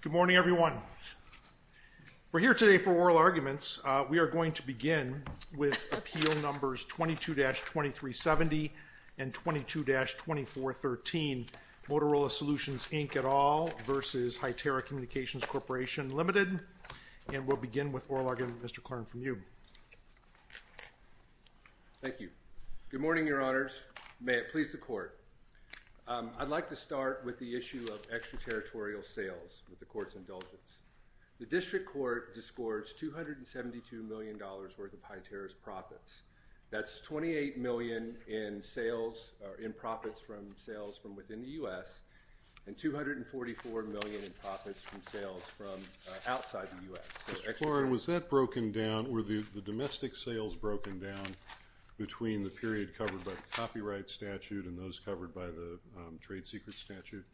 Good morning everyone. We're here today for oral arguments. We are going to begin with appeal numbers 22-2370 and 22-2413. Motorola Solutions, Inc. at all versus Hytera Communications Corporation Limited and we'll begin with oral argument. Mr. Clarn from you. Thank you. Good morning your honors. May it please the court. I'd like to start with the issue of extraterritorial sales with the court's indulgence. The district court discords 272 million dollars worth of Hytera's profits. That's 28 million in sales or in profits from sales from within the U.S. and 244 million in profits from sales from outside the U.S. Mr. Clarn, was that broken down, were the domestic sales broken down between the district and those covered by the trade secret statute?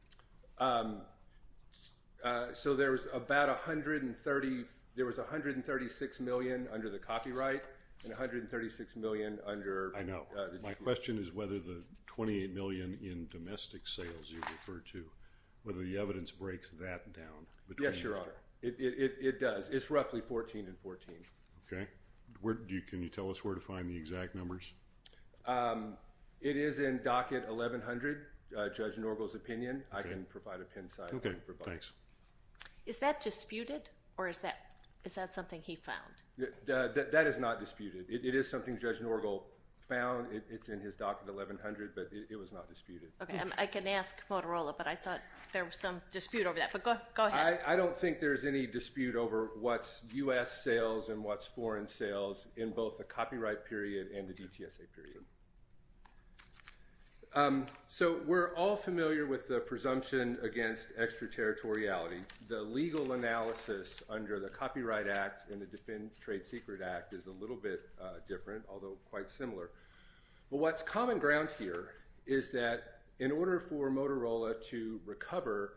So there was about a hundred and thirty, there was a hundred and thirty-six million under the copyright and a hundred and thirty-six million under... I know. My question is whether the 28 million in domestic sales you refer to, whether the evidence breaks that down? Yes, your honor. It does. It's roughly 14 and 14. Okay. Where do you, can you tell us where to find the exact numbers? It is in docket 1100, Judge Norgal's opinion. I can provide a pin site. Okay, thanks. Is that disputed or is that, is that something he found? That is not disputed. It is something Judge Norgal found. It's in his docket 1100 but it was not disputed. Okay, I can ask Motorola but I thought there was some dispute over that but go ahead. I don't think there's any dispute over what's U.S. sales and what's foreign sales in both the copyright period and the DTSA period. So we're all familiar with the presumption against extraterritoriality. The legal analysis under the Copyright Act and the Defend Trade Secret Act is a little bit different, although quite similar. But what's common ground here is that in order for Motorola to recover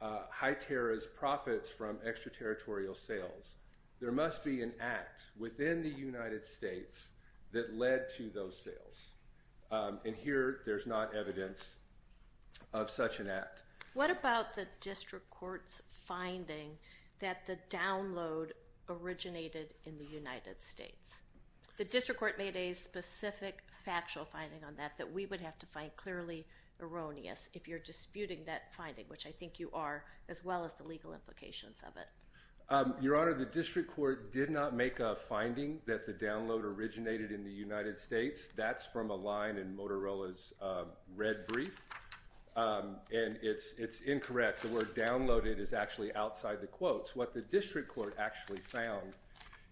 High Terra's profits from extraterritorial sales, there must be an act within the United States that led to those sales. And here there's not evidence of such an act. What about the District Court's finding that the download originated in the United States? The District Court made a specific factual finding on that that we would have to find clearly erroneous if you're disputing that finding, which I think you are, as well as the legal implications of it. Your Honor, the District Court did not make a finding that the download originated in the United States. That's from a line in Motorola's red brief and it's incorrect. The word downloaded is actually outside the quotes. What the District Court actually found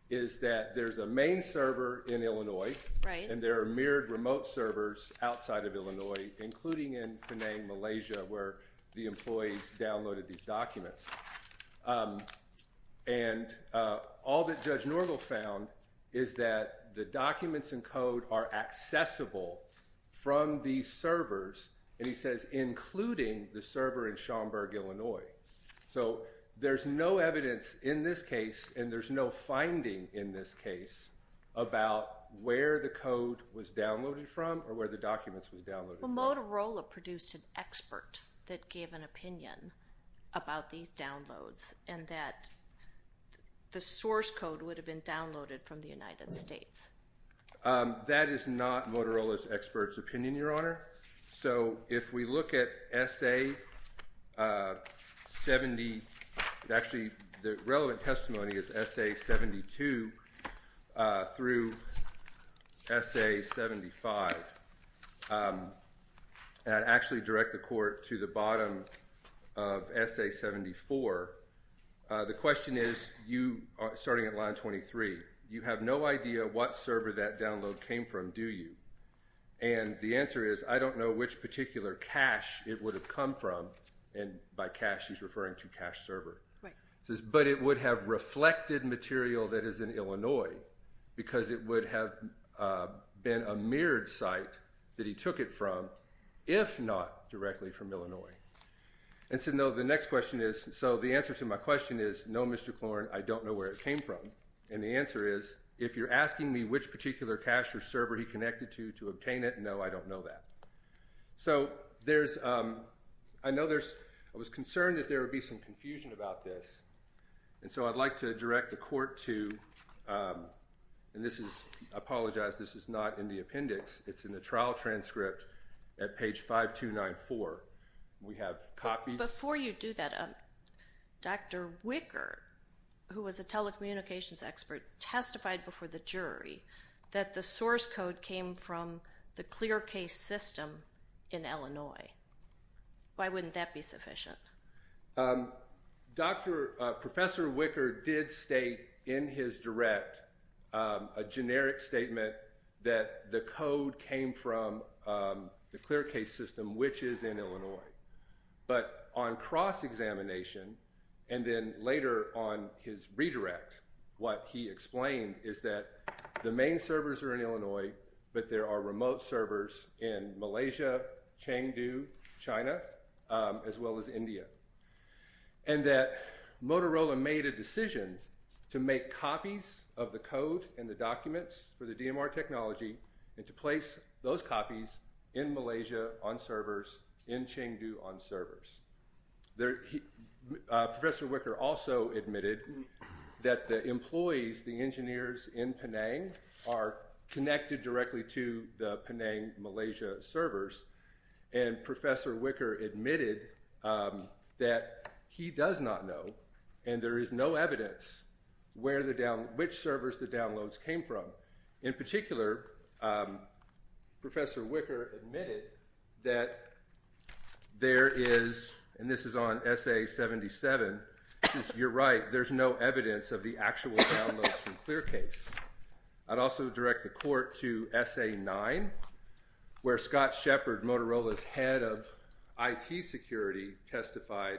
is that there's a main server in Illinois and there are mirrored remote servers outside of Illinois, including in Penang, Malaysia, where the employees downloaded these documents. And all that Judge Norgel found is that the documents and code are accessible from these servers, and he says including the server in Schaumburg, Illinois. So there's no evidence in this case and there's no finding in this case about where the code was downloaded from or where the documents was downloaded. Well, Motorola produced an expert that gave an opinion about these downloads and that the source code would have been downloaded from the United States. That is not Motorola's expert's opinion, Your Honor. So if we look at SA 70, actually the relevant testimony is SA 72 through SA 75. I'd actually direct the court to the bottom of SA 74. The question is, starting at line 23, you have no idea what server that download came from, do you? And the answer is, I don't know which particular cache it would have come from, and by cache he's referring to but it would have reflected material that is in Illinois because it would have been a mirrored site that he took it from, if not directly from Illinois. And so no, the next question is, so the answer to my question is, no, Mr. Klorn, I don't know where it came from. And the answer is, if you're asking me which particular cache or server he connected to to obtain it, no, I don't know that. So there's, I know there's, I was concerned that there would be some confusion about this, and so I'd like to direct the court to, and this is, I apologize, this is not in the appendix, it's in the trial transcript at page 5294. We have copies... Before you do that, Dr. Wicker, who was a telecommunications expert, testified before the jury that the source code came from the ClearCase system in Illinois. Professor Wicker did state in his direct a generic statement that the code came from the ClearCase system, which is in Illinois. But on cross examination, and then later on his redirect, what he explained is that the main servers are in Illinois, but there are remote servers in Malaysia, Chengdu, China, as well as India. And that Motorola made a decision to make copies of the code and the documents for the DMR technology and to place those copies in Malaysia on servers, in Chengdu on servers. Professor Wicker also admitted that the employees, the engineers in Penang, are connected directly to the Penang Malaysia servers, and Professor Wicker admitted that he does not know, and there is no evidence, which servers the downloads came from. In particular, Professor Wicker admitted that there is, and this is on SA-77, you're right, there's no evidence of the actual downloads from ClearCase. I'd also direct the court to SA-9, where Scott Shepard, Motorola's head of IT security, testified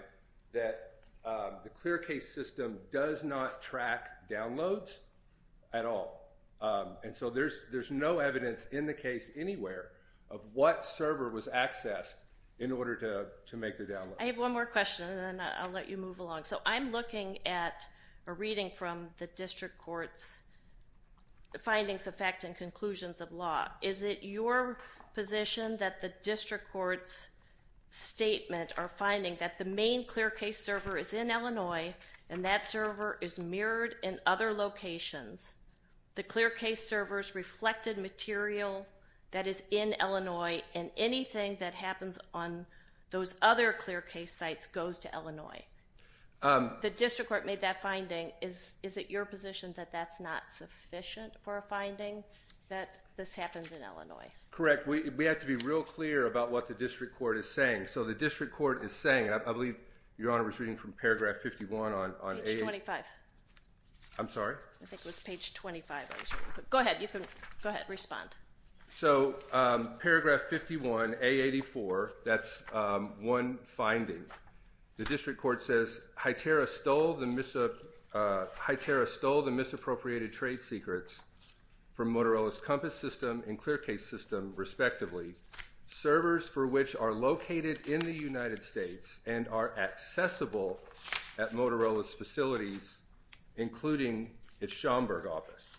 that the ClearCase system does not track downloads at all. And so there's no evidence in the case anywhere of what server was accessed in order to make the downloads. I have one more question and then I'll let you move along. So I'm looking at a reading from the District Court's findings, effect, and conclusions of law. Is it your position that the District Court's statement or finding that the main ClearCase server is in Illinois and that server is mirrored in other locations, the ClearCase servers reflected material that is in Illinois, and anything that happens on those other ClearCase sites goes to Illinois? The District Court made that finding. Is it your position that that's not sufficient for a finding that this happens in Illinois? Correct. We have to be real clear about what the District Court is saying. So the District Court is saying, I believe Your Honor was reading from paragraph 51 on... Page 25. I'm sorry? I think it was page 25. Go ahead. You can go ahead and respond. So paragraph 51, A-84, that's one finding. The HITERA stole the misappropriated trade secrets from Motorola's Compass System and ClearCase system, respectively, servers for which are located in the United States and are accessible at Motorola's facilities, including its Schomburg office.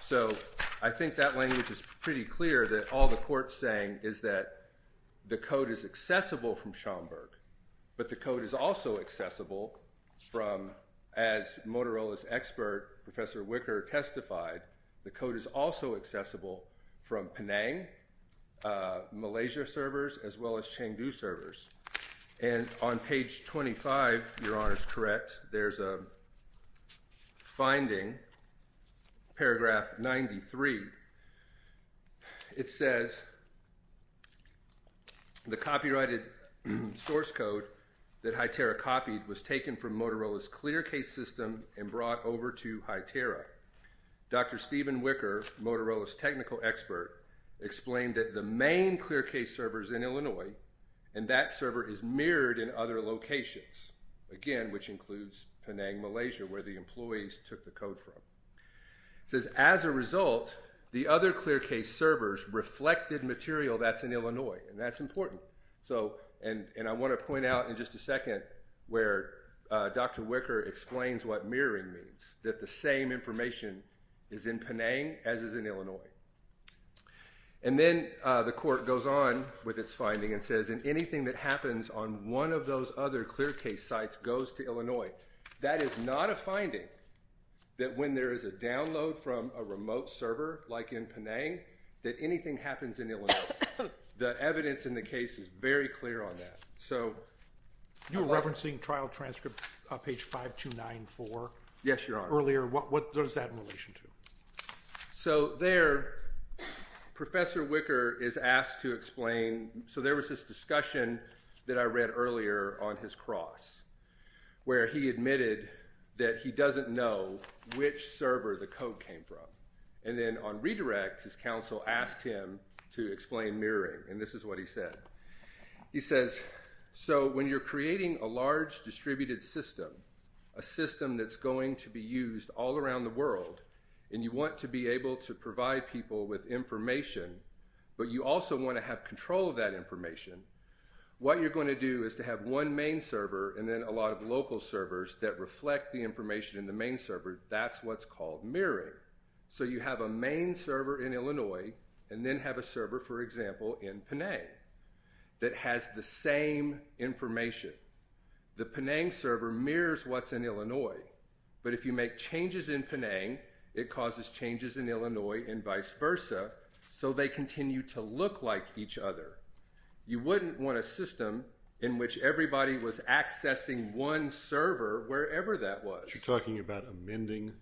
So I think that language is pretty clear that all the court's saying is that the code is accessible from Schomburg, but the code is also accessible from, as Motorola's expert Professor Wicker testified, the code is also accessible from Penang, Malaysia servers, as well as Chengdu servers. And on page 25, Your Honor's correct, there's a finding, paragraph 93. It says the copyrighted source code that HITERA copied was taken from Motorola's ClearCase system and brought over to HITERA. Dr. Steven Wicker, Motorola's technical expert, explained that the main ClearCase servers in Illinois, and that server is mirrored in other locations, again, which includes Penang, Malaysia, where the employees took the code from. It says, as a result, the other ClearCase servers reflected material that's in Illinois, and that's important. And I want to point out in just a second where Dr. Wicker explains what mirroring means, that the same information is in Penang as is in Illinois. And then the court goes on with its finding and says, and anything that is not a finding, that when there is a download from a remote server, like in Penang, that anything happens in Illinois. The evidence in the case is very clear on that. You were referencing trial transcripts on page 5294. Yes, Your Honor. What does that have in relation to? So there, Professor Wicker is asked to explain, so there was this discussion that I read earlier on his cross, where he admitted that he doesn't know which server the code came from. And then on Redirect, his counsel asked him to explain mirroring, and this is what he said. He says, so when you're creating a large distributed system, a system that's going to be used all around the world, and you want to be able to provide people with information, but you also want to have control of that information, what you're going to do is to have one main server and then a lot of local servers that reflect the information in the main server. That's what's called mirroring. So you have a main server in Illinois and then have a server, for example, in Penang that has the same information. The Penang server mirrors what's in Illinois, but if you make changes in Penang, it causes changes in Illinois and vice versa, so they continue to look like each other. You wouldn't want a system in which everybody was accessing one server wherever that was. You're talking about amending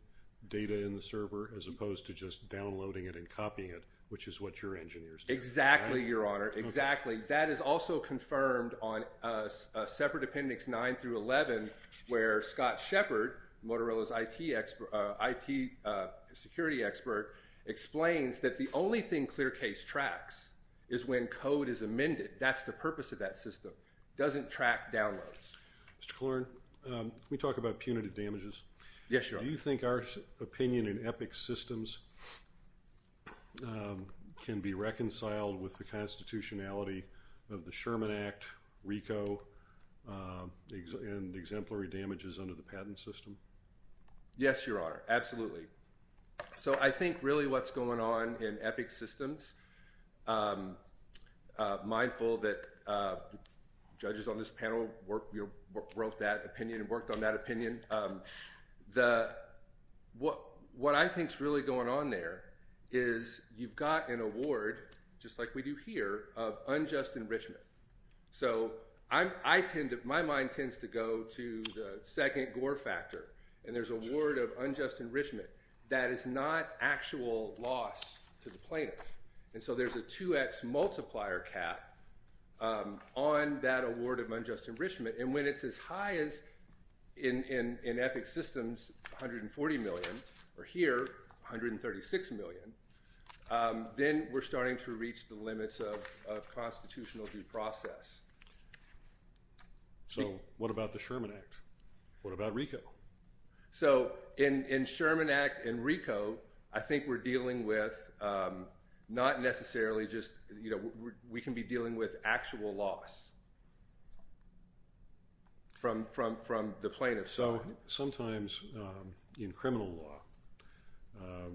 data in the server as opposed to just downloading it and copying it, which is what your engineers do. Exactly, Your Honor, exactly. That is also confirmed on separate appendix 9 through 11, where Scott Shepard, Motorola's IT security expert, explains that the only thing that's going on in Epic's system is that the patent system, the purpose of that system, doesn't track downloads. Mr. Klorn, can we talk about punitive damages? Yes, Your Honor. Do you think our opinion in Epic's systems can be reconciled with the constitutionality of the Sherman Act, RICO, and exemplary damages under the patent system? Yes, Your Honor, absolutely. So I think really what's going on in Epic's systems, mindful that judges on this panel wrote that opinion and worked on that opinion, what I think's really going on there is you've got an award, just like we do here, of unjust enrichment. So my mind tends to go to the second gore factor, and that is not actual loss to the plaintiff. And so there's a 2x multiplier cap on that award of unjust enrichment, and when it's as high as, in Epic's systems, 140 million, or here, 136 million, then we're starting to reach the limits of constitutional due process. So what about the Sherman Act? What about RICO? So in Sherman Act and RICO, I think we're dealing with, not necessarily just, you know, we can be dealing with actual loss from the plaintiff. So sometimes in criminal law,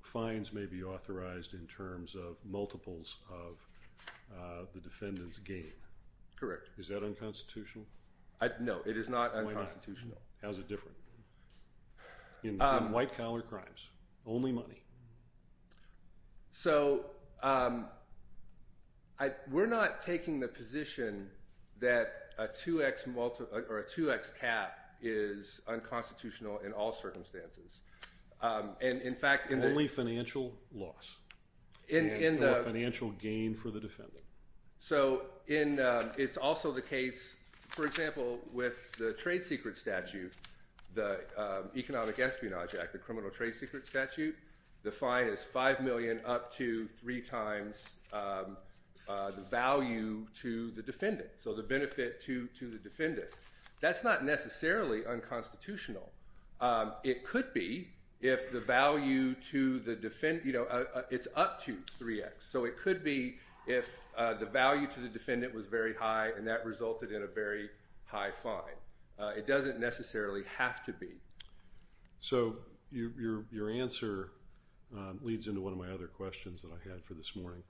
fines may be authorized in terms of multiples of the defendant's gain. Correct. Is that unconstitutional? No, it is not unconstitutional. Why not? How's it different? In white-collar crimes, only money. So we're not taking the position that a 2x cap is unconstitutional in all circumstances. And in fact, in the... Only financial loss. And a financial gain for the defendant. So it's also the Economic Espionage Act, the Criminal Trade Secret Statute, the fine is 5 million up to 3 times the value to the defendant. So the benefit to the defendant. That's not necessarily unconstitutional. It could be if the value to the defendant, you know, it's up to 3x. So it could be if the value to the defendant was very high and that resulted in a very high fine. It doesn't necessarily have to be. So your answer leads into one of my other questions that I had for this morning.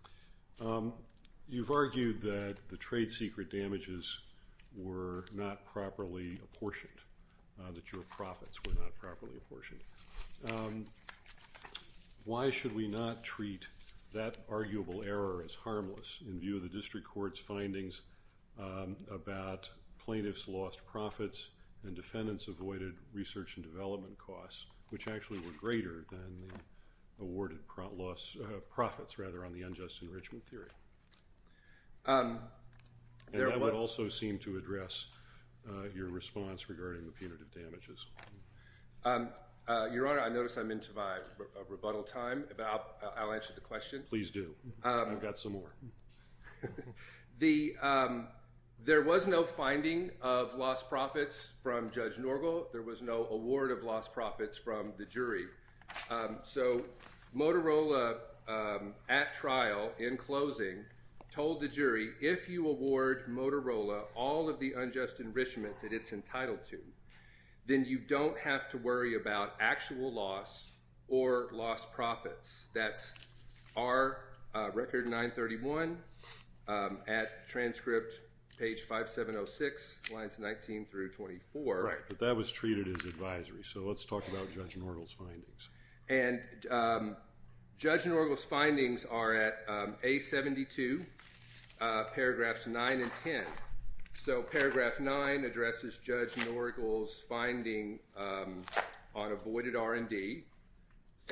You've argued that the trade secret damages were not properly apportioned. That your profits were not properly apportioned. Why should we not treat that arguable error as harmless in view of the defendant's avoided research and development costs, which actually were greater than the awarded loss, profits rather, on the unjust enrichment theory. That would also seem to address your response regarding the punitive damages. Your Honor, I notice I'm into my rebuttal time. I'll answer the question. Please do. I've got some more. There was no finding of lost profits from Judge Norgal. There was no award of lost profits from the jury. So Motorola, at trial, in closing, told the jury, if you award Motorola all of the unjust enrichment that it's entitled to, then you don't have to worry about actual loss or lost profits. That's R, record 931, at transcript page 5706, lines 19 through 24. Right, but that was treated as advisory. So let's talk about Judge Norgal's findings. And Judge Norgal's findings are at A72, paragraphs 9 and 10. So paragraph 9 addresses Judge Norgal's finding on avoided R&D,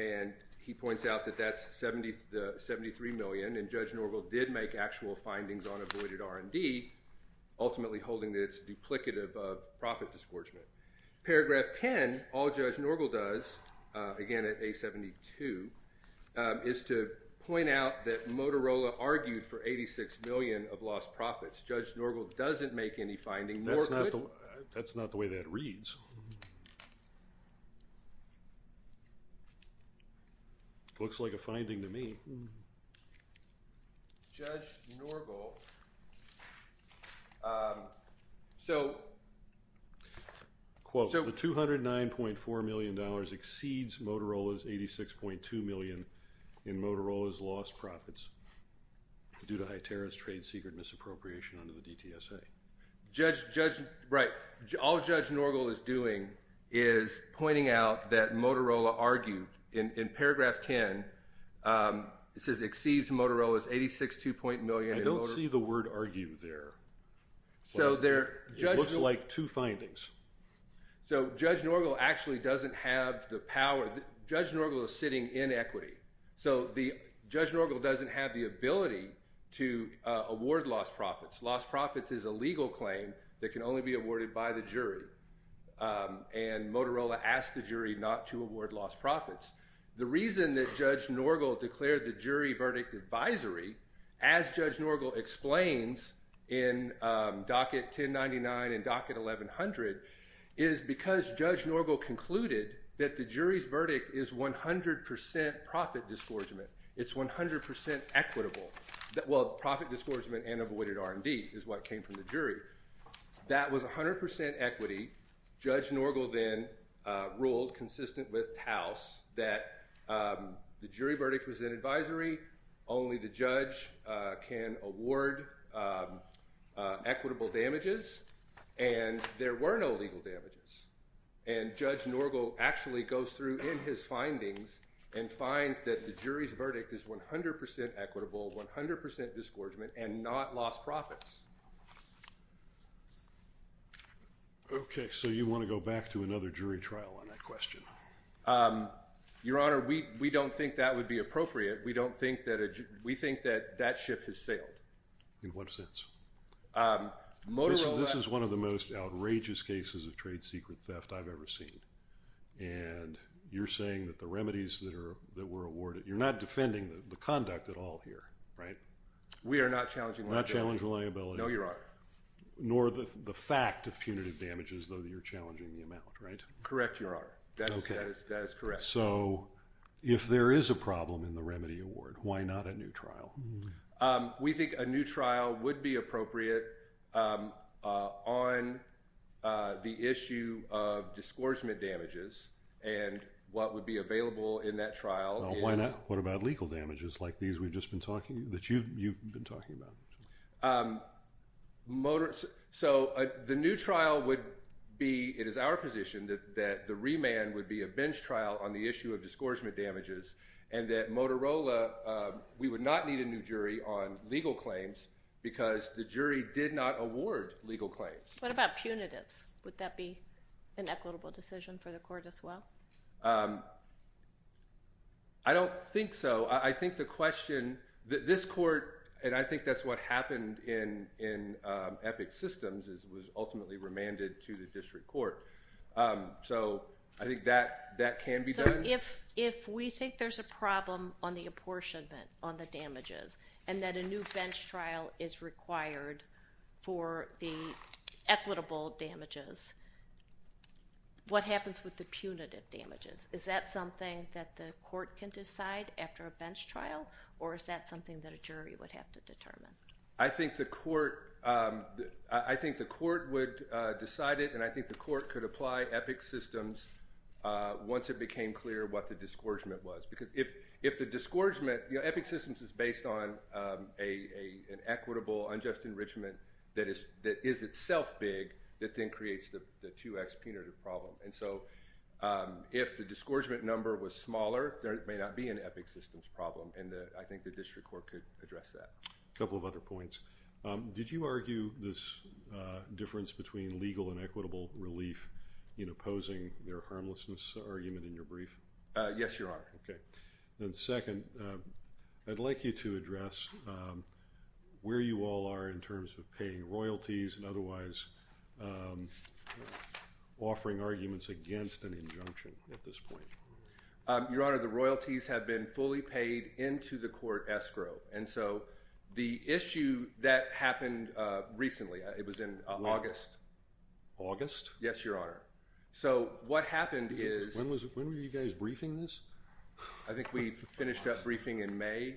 and he points out that that's 73 million, and Judge Norgal did make actual findings on avoided R&D, ultimately holding that it's duplicative of profit disgorgement. Paragraph 10, all Judge Norgal does, again at A72, is to point out that Motorola argued for 86 million of lost profits. Judge Norgal doesn't make any finding. That's not the way that reads. Looks like a finding to me. Judge Norgal, so... Quote, the 209.4 million dollars exceeds Motorola's 86.2 million in Motorola's lost profits due to high terrorist trade secret misappropriation under the DTSA. Judge, right, all Judge Norgal is doing is pointing out that Motorola argued, in paragraph 10, it says exceeds Motorola's 86.2 million... I don't see the word argue there. So there... Judge Norgal is sitting in equity. So Judge Norgal doesn't have the ability to award lost profits. Lost profits is a legal claim that can only be awarded by the jury, and Motorola asked the jury not to award lost profits. The reason that Judge Norgal declared the jury verdict advisory, as Judge Norgal explains in docket 1099 and docket 1100, is because Judge Norgal concluded that the jury's verdict is 100% profit disgorgement. It's 100% equitable. Well, profit disgorgement and avoided R&D is what came from the jury. That was 100% equity. Judge Norgal then ruled, consistent with Taos, that the jury verdict was in advisory. Only the judge can award equitable damages, and there were no legal damages, and Judge Norgal actually goes through in his findings and finds that the jury's verdict is 100% equitable, 100% disgorgement, and not lost profits. Okay, so you want to go back to another jury trial on that question. Your Honor, we don't think that would be appropriate. We don't think that... we think that that ship has sailed. In what sense? This is one of the most cases of trade secret theft I've ever seen, and you're saying that the remedies that were awarded... you're not defending the conduct at all here, right? We are not challenging liability. Not challenge reliability. No, Your Honor. Nor the fact of punitive damages, though you're challenging the amount, right? Correct, Your Honor. That is correct. So, if there is a problem in the remedy award, why not a new trial? We think a new trial would be appropriate on the issue of disgorgement damages, and what would be available in that trial... Why not? What about legal damages like these we've just been talking... that you've been talking about? So, the new trial would be... it is our position that the remand would be a bench trial on the issue of disgorgement damages, and that Motorola... we would not need a new jury on legal claims, because the jury did not award legal claims. What about punitives? Would that be an equitable decision for the court as well? I don't think so. I think the question... this court, and I think that's what happened in Epic Systems, was ultimately remanded to the district court. So, I think that that can be done. So, if we think there's a problem on the damages, and that a new bench trial is required for the equitable damages, what happens with the punitive damages? Is that something that the court can decide after a bench trial, or is that something that a jury would have to determine? I think the court... I think the court would decide it, and I think the court could apply Epic Systems once it became clear what the disgorgement was, because if the disgorgement... Epic Systems is based on an equitable unjust enrichment that is itself big, that then creates the 2x punitive problem. And so, if the disgorgement number was smaller, there may not be an Epic Systems problem, and I think the district court could address that. A couple of other points. Did you argue this difference between legal and equitable relief in opposing their harmlessness argument in your brief? Yes, Your Honor. Okay. Then second, I'd like you to address where you all are in terms of paying royalties and otherwise offering arguments against an injunction at this point. Your Honor, the royalties have been fully paid into the court escrow. And so, the issue that happened recently, it was in August. August? Yes, Your Honor. So, what happened is... When were you guys briefing this? I think we finished up briefing in May.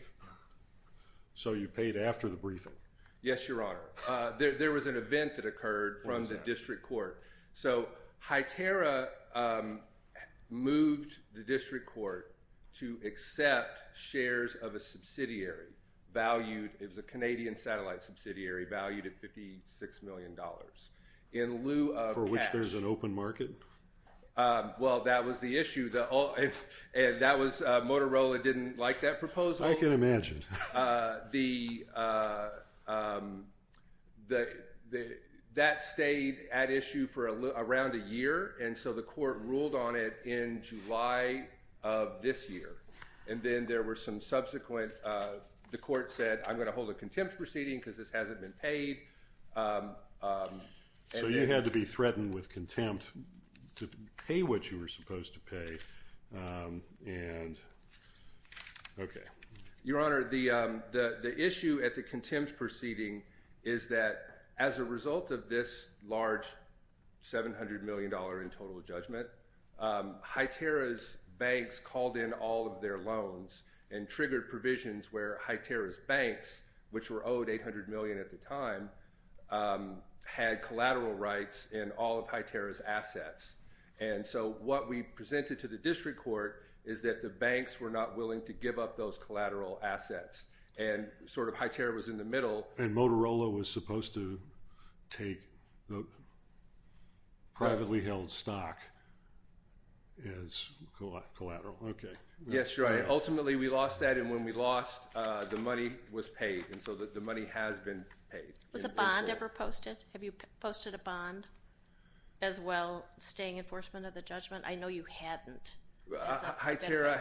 So, you paid after the briefing? Yes, Your Honor. There was an event that occurred from the district court. So, Hytera moved the district court to accept shares of a subsidiary valued... It was a Canadian satellite subsidiary valued at $56 million. In lieu of cash... For which there's an open market? Well, that was the issue. Motorola didn't like that proposal. I can imagine. That stayed at issue for around a year. And so, the court ruled on it in July of this year. And then there were some subsequent... The court said, I'm going to hold a contempt proceeding because this hasn't been paid. So, you had to be threatened with contempt to pay what you were supposed to pay. And... Okay. Your Honor, the issue at the contempt proceeding is that as a result of this large $700 million in total judgment, Hytera's banks called in all of their loans and triggered provisions where Hytera's banks, which were owed $800 million at the time, had collateral rights in all of Hytera's assets. And so, what we presented to the district court is that the banks were not willing to give up those collateral assets. And, sort of, Hytera was in the middle. And Motorola was supposed to take the privately held stock as collateral. Okay. Yes, Your Honor. Ultimately, we lost that. And when we lost, the money was paid. And so, the money has been paid. Was a bond ever posted? Have you posted a bond as well, staying enforcement of the judgment? I know you hadn't. Hytera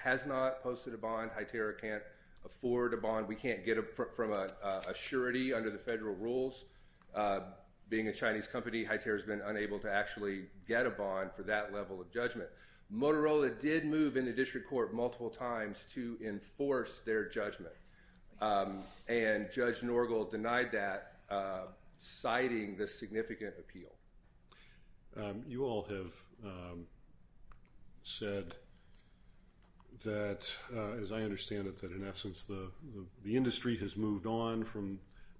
has not posted a bond. Hytera can't afford a bond. We can't get from a surety under the federal rules. Being a Chinese company, Hytera's been unable to actually get a bond for that level of judgment. Motorola did move into district court multiple times to enforce their judgment. And Judge Norgal denied that, citing the significant appeal. You all have said that, as I understand it, that in essence, the industry has moved on from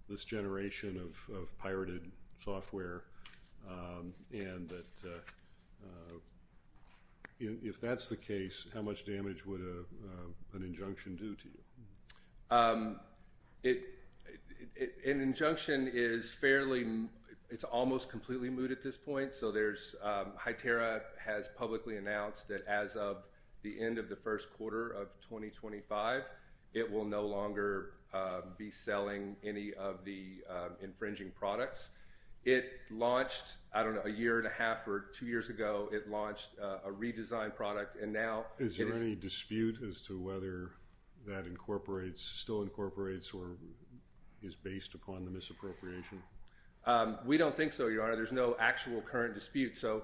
this generation of pirated software and that if that's the case, how much damage would an injunction do to you? An injunction is fairly, it's almost completely moot at this point. So, Hytera has publicly announced that as of the end of the first quarter of 2025, it will no longer be selling any of the infringing products. It launched, I don't know, a year and a half or two years ago, it launched a redesigned product. Is there any dispute as to whether that incorporates, still incorporates, or is based upon the misappropriation? We don't think so, Your Honor. There's no actual current dispute. So,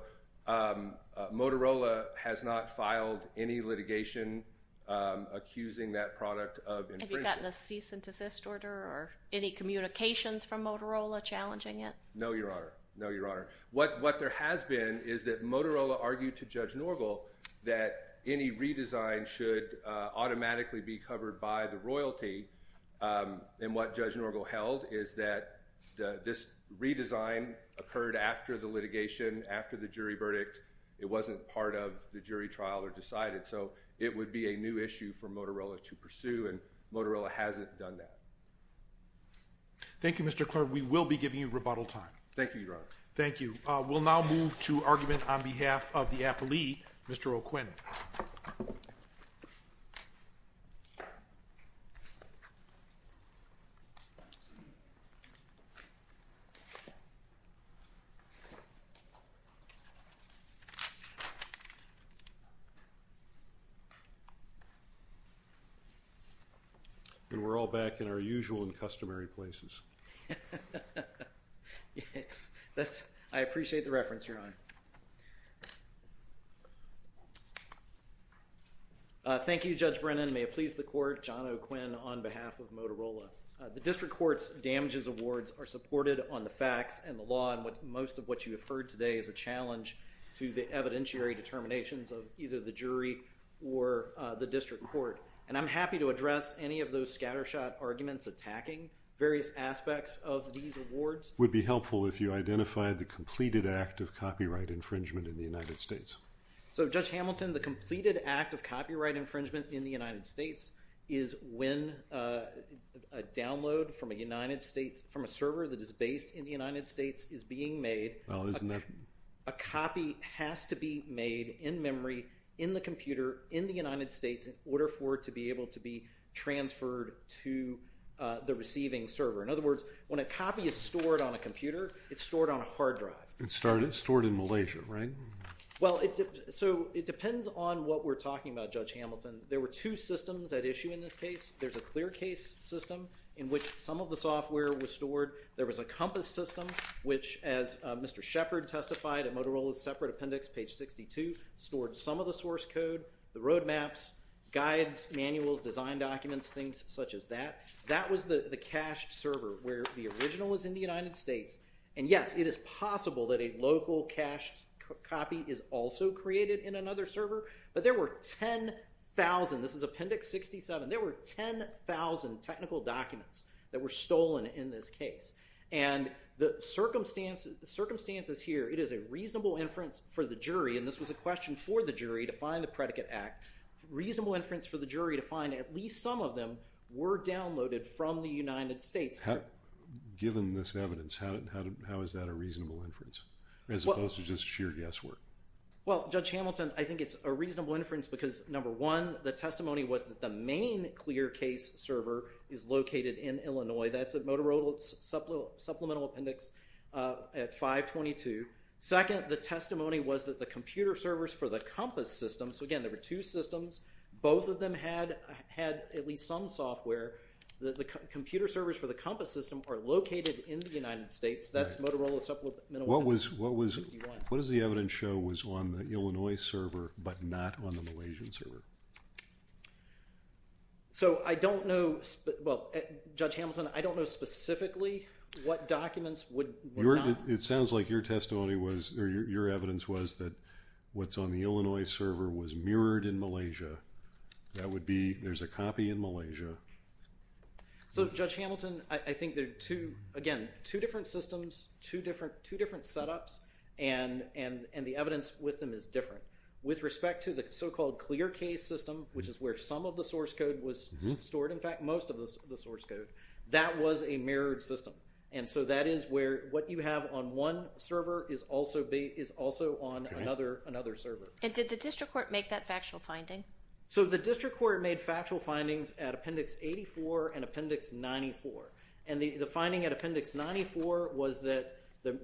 Motorola has not filed any litigation accusing that product of infringing. Have you gotten a cease and desist order or any communications from Motorola challenging it? No, Your Honor. No, Your Honor. What there has been is that Motorola argued to Judge Norgal that any redesign should automatically be covered by the royalty. And what Judge Norgal held is that this redesign occurred after the litigation, after the jury verdict. It wasn't part of the jury trial or decided. So, it would be a new issue for Motorola to pursue, and Motorola hasn't done that. Thank you, Mr. Clerk. We will be giving you rebuttal time. Thank you, Your Honor. Thank you. We'll now move to argument on behalf of the appellee, Mr. O'Quinn. And we're all back in our usual and customary places. Yes. I appreciate the reference, Your Honor. Thank you, Judge Brennan. May it please the court, John O'Quinn on behalf of Motorola. The district court's damages awards are supported on the facts and the law, and most of what you have heard today is a challenge to the evidentiary determinations of either the jury or the district court. And I'm happy to address any of those scattershot arguments attacking various aspects of these awards. It would be helpful if you identified the completed act of copyright infringement in the United States. So, Judge Hamilton, the completed act of copyright infringement in the United States is when a download from a server that is based in the United States is being made. A copy has to be made in memory in the computer in the United States in order for it to be able to be transferred to the receiving server. In other words, when a copy is stored on a computer, it's stored on a hard drive. It's stored in Malaysia, right? Well, so it depends on what we're talking about, Judge Hamilton. There were two systems at issue in this case. There's a clear case system in which some of the software was stored. There was a compass system which, as Mr. Shepard testified at Motorola's separate appendix, page 62, stored some of the source code, the roadmaps, guides, manuals, design documents, things such as that. That was the cached server where the original was in the United States. And yes, it is possible that a local cached copy is also created in another server. But there were 10,000, this is appendix 67, there were 10,000 technical documents that were stolen in this case. And the circumstances here, it is a reasonable inference for the jury, and this was a question for the jury to find the predicate act, reasonable inference for the jury to find at least some of them were downloaded from the United States. Given this evidence, how is that a reasonable inference as opposed to just sheer guesswork? Well, Judge Hamilton, I think it's a reasonable inference because, number one, the testimony was that the main clear case server is located in Illinois. That's at Motorola's supplemental appendix at 522. Second, the testimony was that the computer servers for the compass system, so again, there were two systems. Both of them had at least some software. The computer servers for the compass system are located in the United States. That's Motorola supplemental appendix 61. What does the evidence show was on the Illinois server but not on the Malaysian server? So, I don't know, well, Judge Hamilton, I don't know specifically what documents were not... That would be, there's a copy in Malaysia. So, Judge Hamilton, I think there are two, again, two different systems, two different setups, and the evidence with them is different. With respect to the so-called clear case system, which is where some of the source code was stored, in fact, most of the source code, that was a mirrored system, and so that is where what you have on one server is also on another server. And did the district court make that factual finding? So, the district court made factual findings at Appendix 84 and Appendix 94, and the finding at Appendix 94 was that there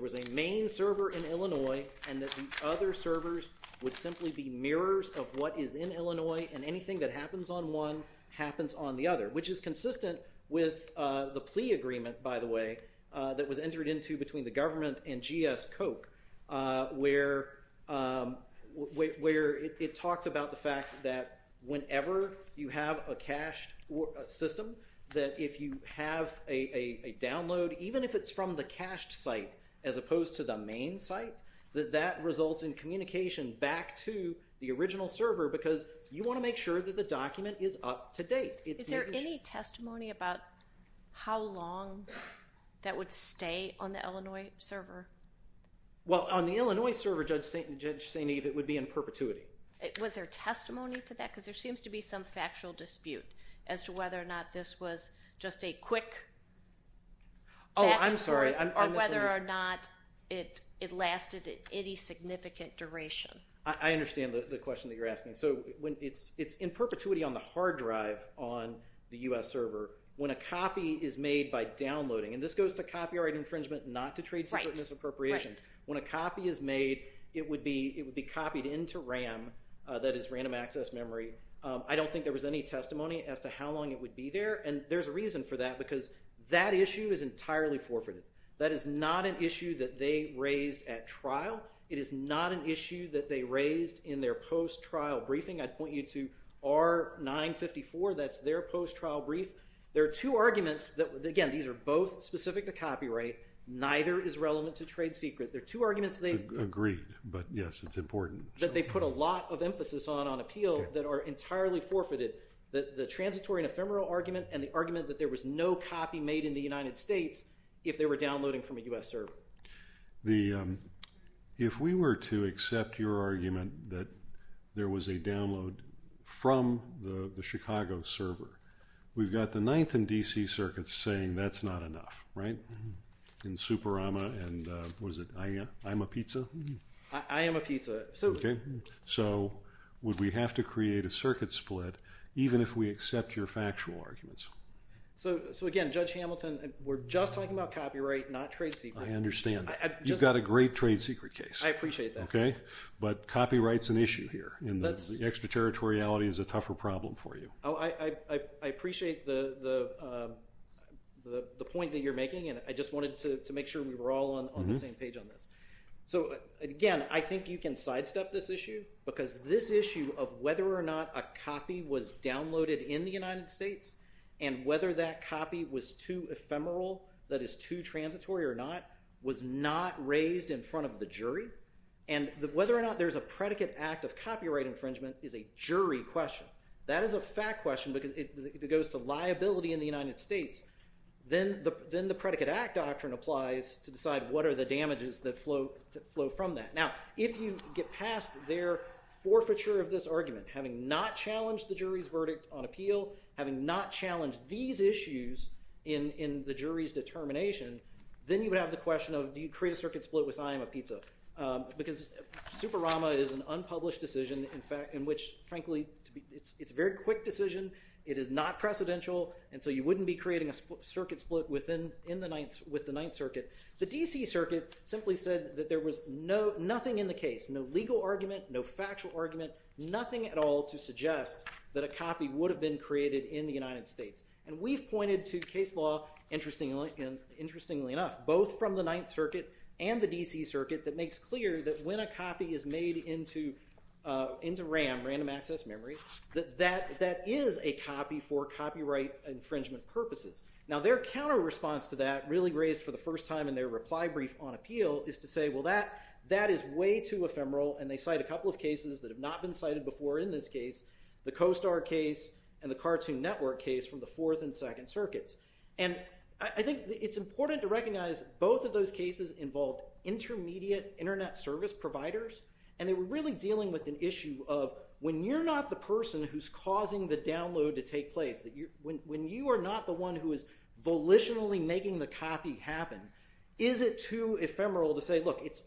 was a main server in Illinois and that the other servers would simply be mirrors of what is in Illinois and anything that happens on one happens on the other, which is consistent with the plea agreement, by the way, that was entered into between the government and GS Coke, where it talks about the fact that whenever you have a cached system, that if you have a download, even if it's from the cached site as opposed to the main site, that that results in communication back to the original server because you want to make sure that the document is up to date. Is there any testimony about how long that would stay on the Illinois server? Well, on the Illinois server, Judge St. Eve, it would be in perpetuity. Was there testimony to that? Because there seems to be some factual dispute as to whether or not this was just a quick back and forth or whether or not it lasted any significant duration. I understand the question that you're asking. So it's in perpetuity on the hard drive on the U.S. server. When a copy is made by downloading, and this goes to copyright infringement, not to trade secret misappropriation. When a copy is made, it would be copied into RAM, that is random access memory. I don't think there was any testimony as to how long it would be there, and there's a reason for that because that issue is entirely forfeited. That is not an issue that they raised at trial. It is not an issue that they raised in their post-trial briefing. I'd point you to R-954. That's their post-trial brief. There are two arguments that, again, these are both specific to copyright. Neither is relevant to trade secret. There are two arguments they put a lot of emphasis on on appeal that are entirely forfeited, the transitory and ephemeral argument and the argument that there was no copy made in the United States if they were downloading from a U.S. server. If we were to accept your argument that there was a download from the Chicago server, we've got the 9th and D.C. circuits saying that's not enough, right? In Superama and, what is it, I'm a pizza? I am a pizza. So would we have to create a circuit split even if we accept your factual arguments? So again, Judge Hamilton, we're just talking about copyright, not trade secret. I understand. You've got a great trade secret case. I appreciate that. But copyright's an issue here. Extraterritoriality is a tougher problem for you. I appreciate the point that you're making, and I just wanted to make sure we were all on the same page on this. So, again, I think you can sidestep this issue because this issue of whether or not a copy was downloaded in the United States and whether that copy was too ephemeral, that is, too transitory or not, was not raised in front of the jury, and whether or not there's a predicate act of copyright infringement is a jury question. That is a fact question because it goes to liability in the United States. Then the predicate act doctrine applies to decide what are the damages that flow from that. Now, if you get past their forfeiture of this argument, having not challenged the jury's verdict on appeal, having not challenged these issues in the jury's determination, then you would have the question of do you create a circuit split with I am a pizza because Superama is an unpublished decision in which, frankly, it's a very quick decision. It is not precedential, and so you wouldn't be creating a circuit split with the Ninth Circuit. The D.C. Circuit simply said that there was nothing in the case, no legal argument, no factual argument, nothing at all to suggest that a copy would have been created in the United States. We've pointed to case law, interestingly enough, both from the Ninth Circuit and the D.C. Circuit that makes clear that when a copy is made into RAM, random access memory, that that is a copy for copyright infringement purposes. Now, their counter response to that really raised for the first time in their reply brief on appeal is to say, well, that is way too ephemeral, and they cite a couple of cases that have not been cited before in this case, the CoStar case and the Cartoon Network case from the Fourth and Second Circuits. And I think it's important to recognize both of those cases involved intermediate Internet service providers, and they were really dealing with an issue of when you're not the person who's causing the download to take place, when you are not the one who is volitionally making the copy happen, is it too ephemeral to say, look, it's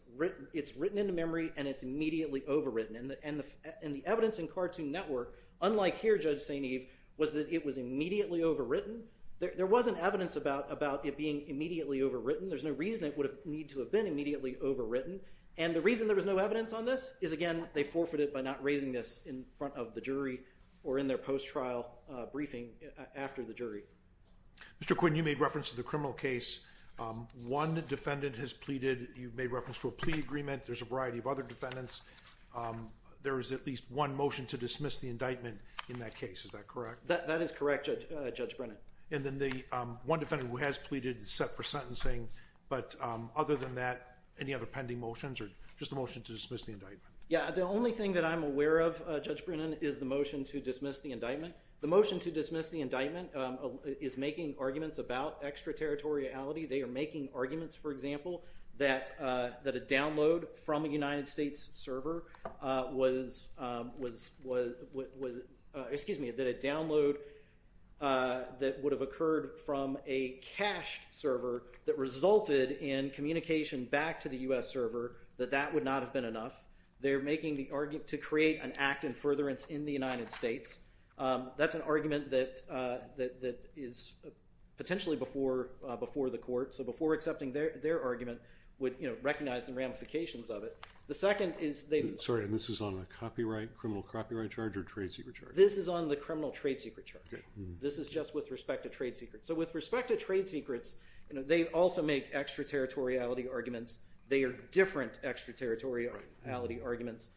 written into memory and it's immediately overwritten. And the evidence in Cartoon Network, unlike here, Judge St. Eve, was that it was immediately overwritten. There wasn't evidence about it being immediately overwritten. There's no reason it would need to have been immediately overwritten. And the reason there was no evidence on this is, again, they forfeited by not raising this in front of the jury or in their post-trial briefing after the jury. Mr. Quinn, you made reference to the criminal case. One defendant has pleaded. You made reference to a plea agreement. There's a variety of other defendants. There is at least one motion to dismiss the indictment in that case. Is that correct? That is correct, Judge Brennan. And then the one defendant who has pleaded is set for sentencing. But other than that, any other pending motions or just a motion to dismiss the indictment? Yeah, the only thing that I'm aware of, Judge Brennan, is the motion to dismiss the indictment. The motion to dismiss the indictment is making arguments about extraterritoriality. They are making arguments, for example, that a download from a United States server was – excuse me, that a download that would have occurred from a cached server that resulted in communication back to the U.S. server, that that would not have been enough. They're making the argument to create an act in furtherance in the United States. That's an argument that is potentially before the court. So before accepting their argument would recognize the ramifications of it. The second is – Sorry, and this is on a copyright, criminal copyright charge or trade secret charge? This is on the criminal trade secret charge. This is just with respect to trade secrets. They are different extraterritoriality arguments.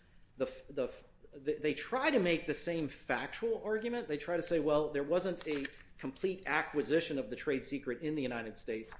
They try to make the same factual argument. They try to say, well, there wasn't a complete acquisition of the trade secret in the United States.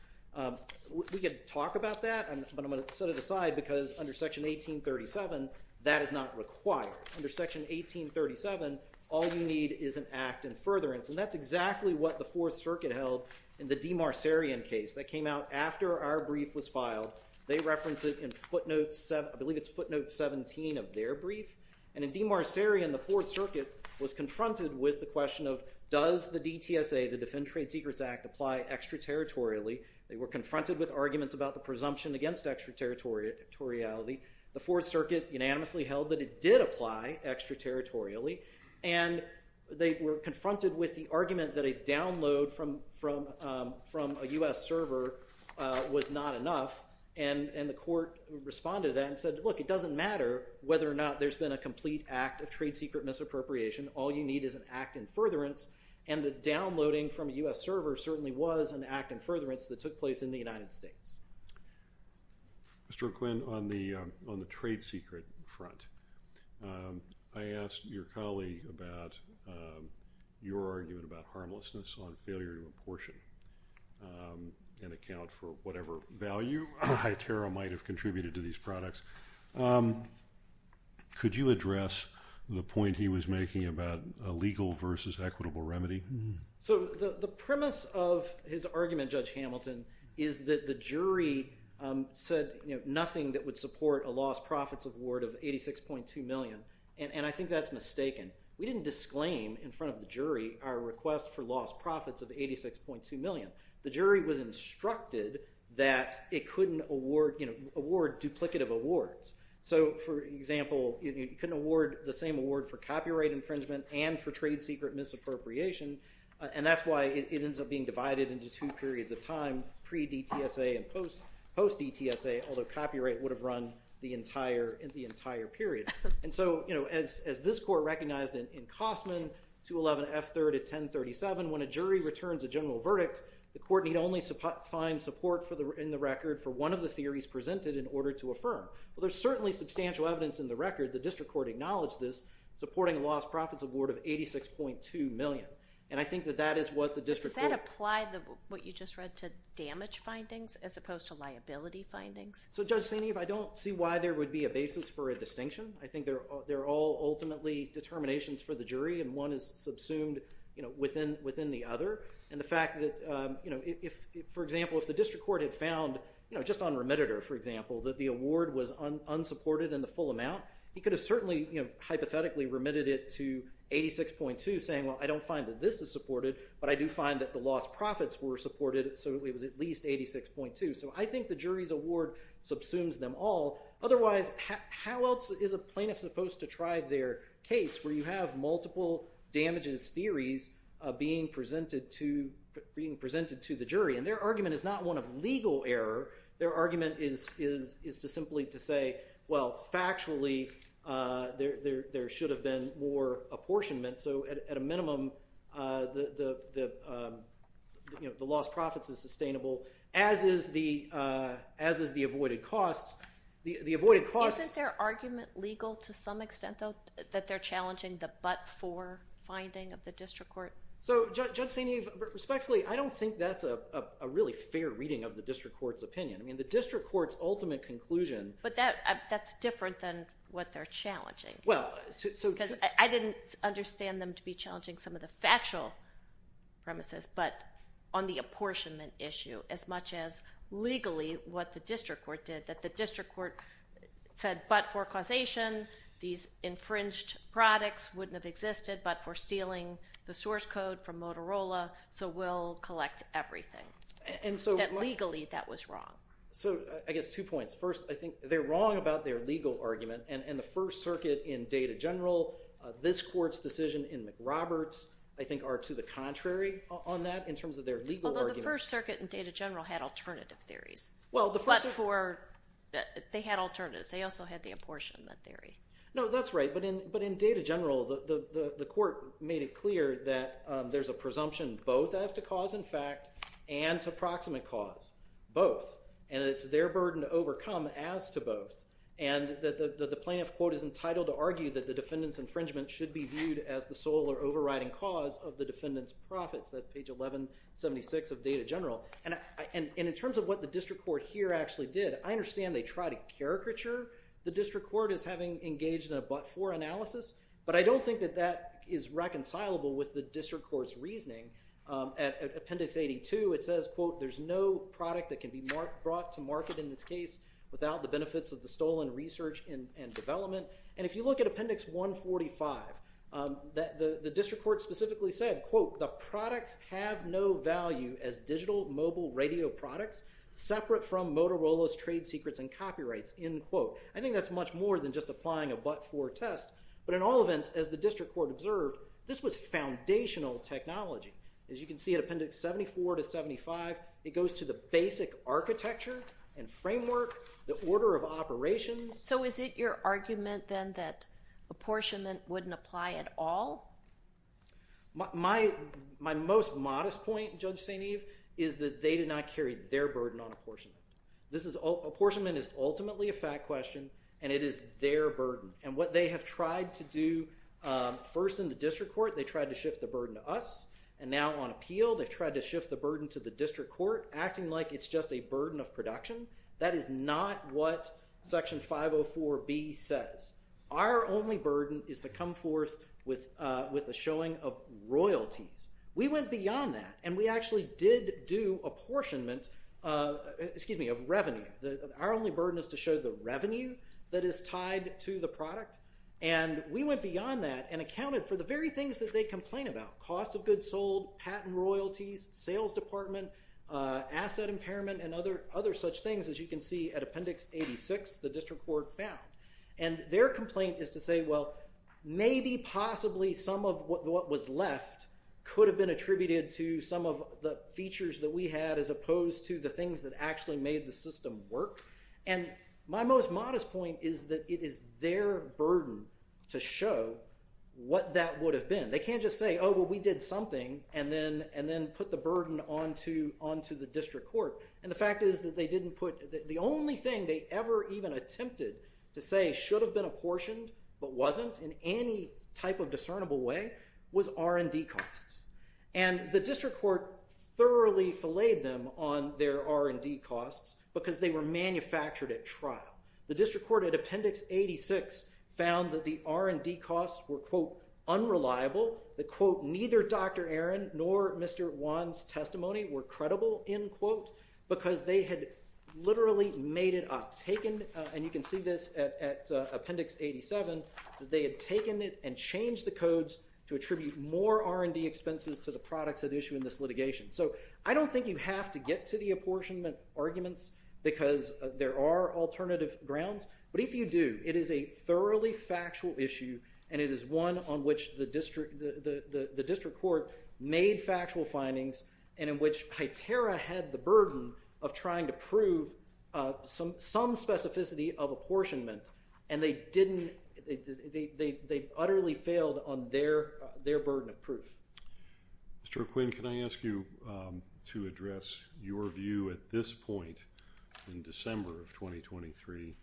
We could talk about that, but I'm going to set it aside because under Section 1837, that is not required. Under Section 1837, all you need is an act in furtherance. And that's exactly what the Fourth Circuit held in the DeMarcerian case that came out after our brief was filed. They referenced it in footnote – I believe it's footnote 17 of their brief. And in DeMarcerian, the Fourth Circuit was confronted with the question of does the DTSA, the Defend Trade Secrets Act, apply extraterritorially. They were confronted with arguments about the presumption against extraterritoriality. The Fourth Circuit unanimously held that it did apply extraterritorially. And they were confronted with the argument that a download from a U.S. server was not enough. And the court responded to that and said, look, it doesn't matter whether or not there's been a complete act of trade secret misappropriation. All you need is an act in furtherance. And the downloading from a U.S. server certainly was an act in furtherance that took place in the United States. Mr. Quinn, on the trade secret front, I asked your colleague about your argument about harmlessness on failure to apportion and account for whatever value Hyterra might have contributed to these products. Could you address the point he was making about a legal versus equitable remedy? So the premise of his argument, Judge Hamilton, is that the jury said nothing that would support a lost profits award of $86.2 million. And I think that's mistaken. We didn't disclaim in front of the jury our request for lost profits of $86.2 million. The jury was instructed that it couldn't award duplicative awards. So, for example, it couldn't award the same award for copyright infringement and for trade secret misappropriation. And that's why it ends up being divided into two periods of time, pre-DTSA and post-DTSA, although copyright would have run the entire period. And so, you know, as this court recognized in Cosman, 211 F.3rd at 1037, when a jury returns a general verdict, the court need only find support in the record for one of the theories presented in order to affirm. Well, there's certainly substantial evidence in the record. The district court acknowledged this, supporting a lost profits award of $86.2 million. And I think that that is what the district court— Does that apply what you just read to damage findings as opposed to liability findings? So, Judge Senev, I don't see why there would be a basis for a distinction. I think they're all ultimately determinations for the jury, and one is subsumed within the other. And the fact that, you know, if, for example, if the district court had found, you know, just on remediator, for example, that the award was unsupported in the full amount, he could have certainly, you know, hypothetically remitted it to 86.2, saying, well, I don't find that this is supported, but I do find that the lost profits were supported, so it was at least 86.2. So I think the jury's award subsumes them all. Otherwise, how else is a plaintiff supposed to try their case where you have multiple damages theories being presented to the jury? And their argument is not one of legal error. Their argument is simply to say, well, factually, there should have been more apportionment. So at a minimum, you know, the lost profits is sustainable, as is the avoided costs. Isn't their argument legal to some extent, though, that they're challenging the but-for finding of the district court? So, Judge Senev, respectfully, I don't think that's a really fair reading of the district court's opinion. I mean, the district court's ultimate conclusion— Because I didn't understand them to be challenging some of the factual premises, but on the apportionment issue, as much as legally what the district court did, that the district court said, but for causation, these infringed products wouldn't have existed, but for stealing the source code from Motorola, so we'll collect everything. And so— That legally, that was wrong. So I guess two points. First, I think they're wrong about their legal argument, and the First Circuit in Data General, this court's decision in McRoberts, I think, are to the contrary on that in terms of their legal argument. Although the First Circuit in Data General had alternative theories. Well, the First— But for—they had alternatives. They also had the apportionment theory. No, that's right. But in Data General, the court made it clear that there's a presumption both as to cause and fact and to proximate cause, both. And it's their burden to overcome as to both. And the plaintiff, quote, is entitled to argue that the defendant's infringement should be viewed as the sole or overriding cause of the defendant's profits. That's page 1176 of Data General. And in terms of what the district court here actually did, I understand they try to caricature the district court as having engaged in a but-for analysis, but I don't think that that is reconcilable with the district court's reasoning. At Appendix 82, it says, quote, there's no product that can be brought to market in this case without the benefits of the stolen research and development. And if you look at Appendix 145, the district court specifically said, quote, the products have no value as digital mobile radio products separate from Motorola's trade secrets and copyrights, end quote. I think that's much more than just applying a but-for test. But in all events, as the district court observed, this was foundational technology. As you can see in Appendix 74 to 75, it goes to the basic architecture and framework, the order of operations. So is it your argument then that apportionment wouldn't apply at all? My most modest point, Judge St. Eve, is that they did not carry their burden on apportionment. Apportionment is ultimately a fact question, and it is their burden. And what they have tried to do first in the district court, they tried to shift the burden to us. And now on appeal, they've tried to shift the burden to the district court, acting like it's just a burden of production. That is not what Section 504B says. Our only burden is to come forth with a showing of royalties. We went beyond that, and we actually did do apportionment, excuse me, of revenue. Our only burden is to show the revenue that is tied to the product. And we went beyond that and accounted for the very things that they complain about, cost of goods sold, patent royalties, sales department, asset impairment, and other such things. As you can see at Appendix 86, the district court found. And their complaint is to say, well, maybe possibly some of what was left could have been attributed to some of the features that we had as opposed to the things that actually made the system work. And my most modest point is that it is their burden to show what that would have been. They can't just say, oh, well, we did something and then put the burden onto the district court. And the fact is that they didn't put – the only thing they ever even attempted to say should have been apportioned but wasn't in any type of discernible way was R&D costs. And the district court thoroughly filleted them on their R&D costs because they were manufactured at trial. The district court at Appendix 86 found that the R&D costs were, quote, unreliable, that, quote, neither Dr. Aaron nor Mr. Wan's testimony were credible, end quote, because they had literally made it up, and you can see this at Appendix 87, that they had taken it and changed the codes to attribute more R&D expenses to the products at issue in this litigation. So I don't think you have to get to the apportionment arguments because there are alternative grounds. But if you do, it is a thoroughly factual issue, and it is one on which the district court made factual findings and in which HITERA had the burden of trying to prove some specificity of apportionment, and they didn't – they utterly failed on their burden of proof. Mr. McQueen, can I ask you to address your view at this point in December of 2023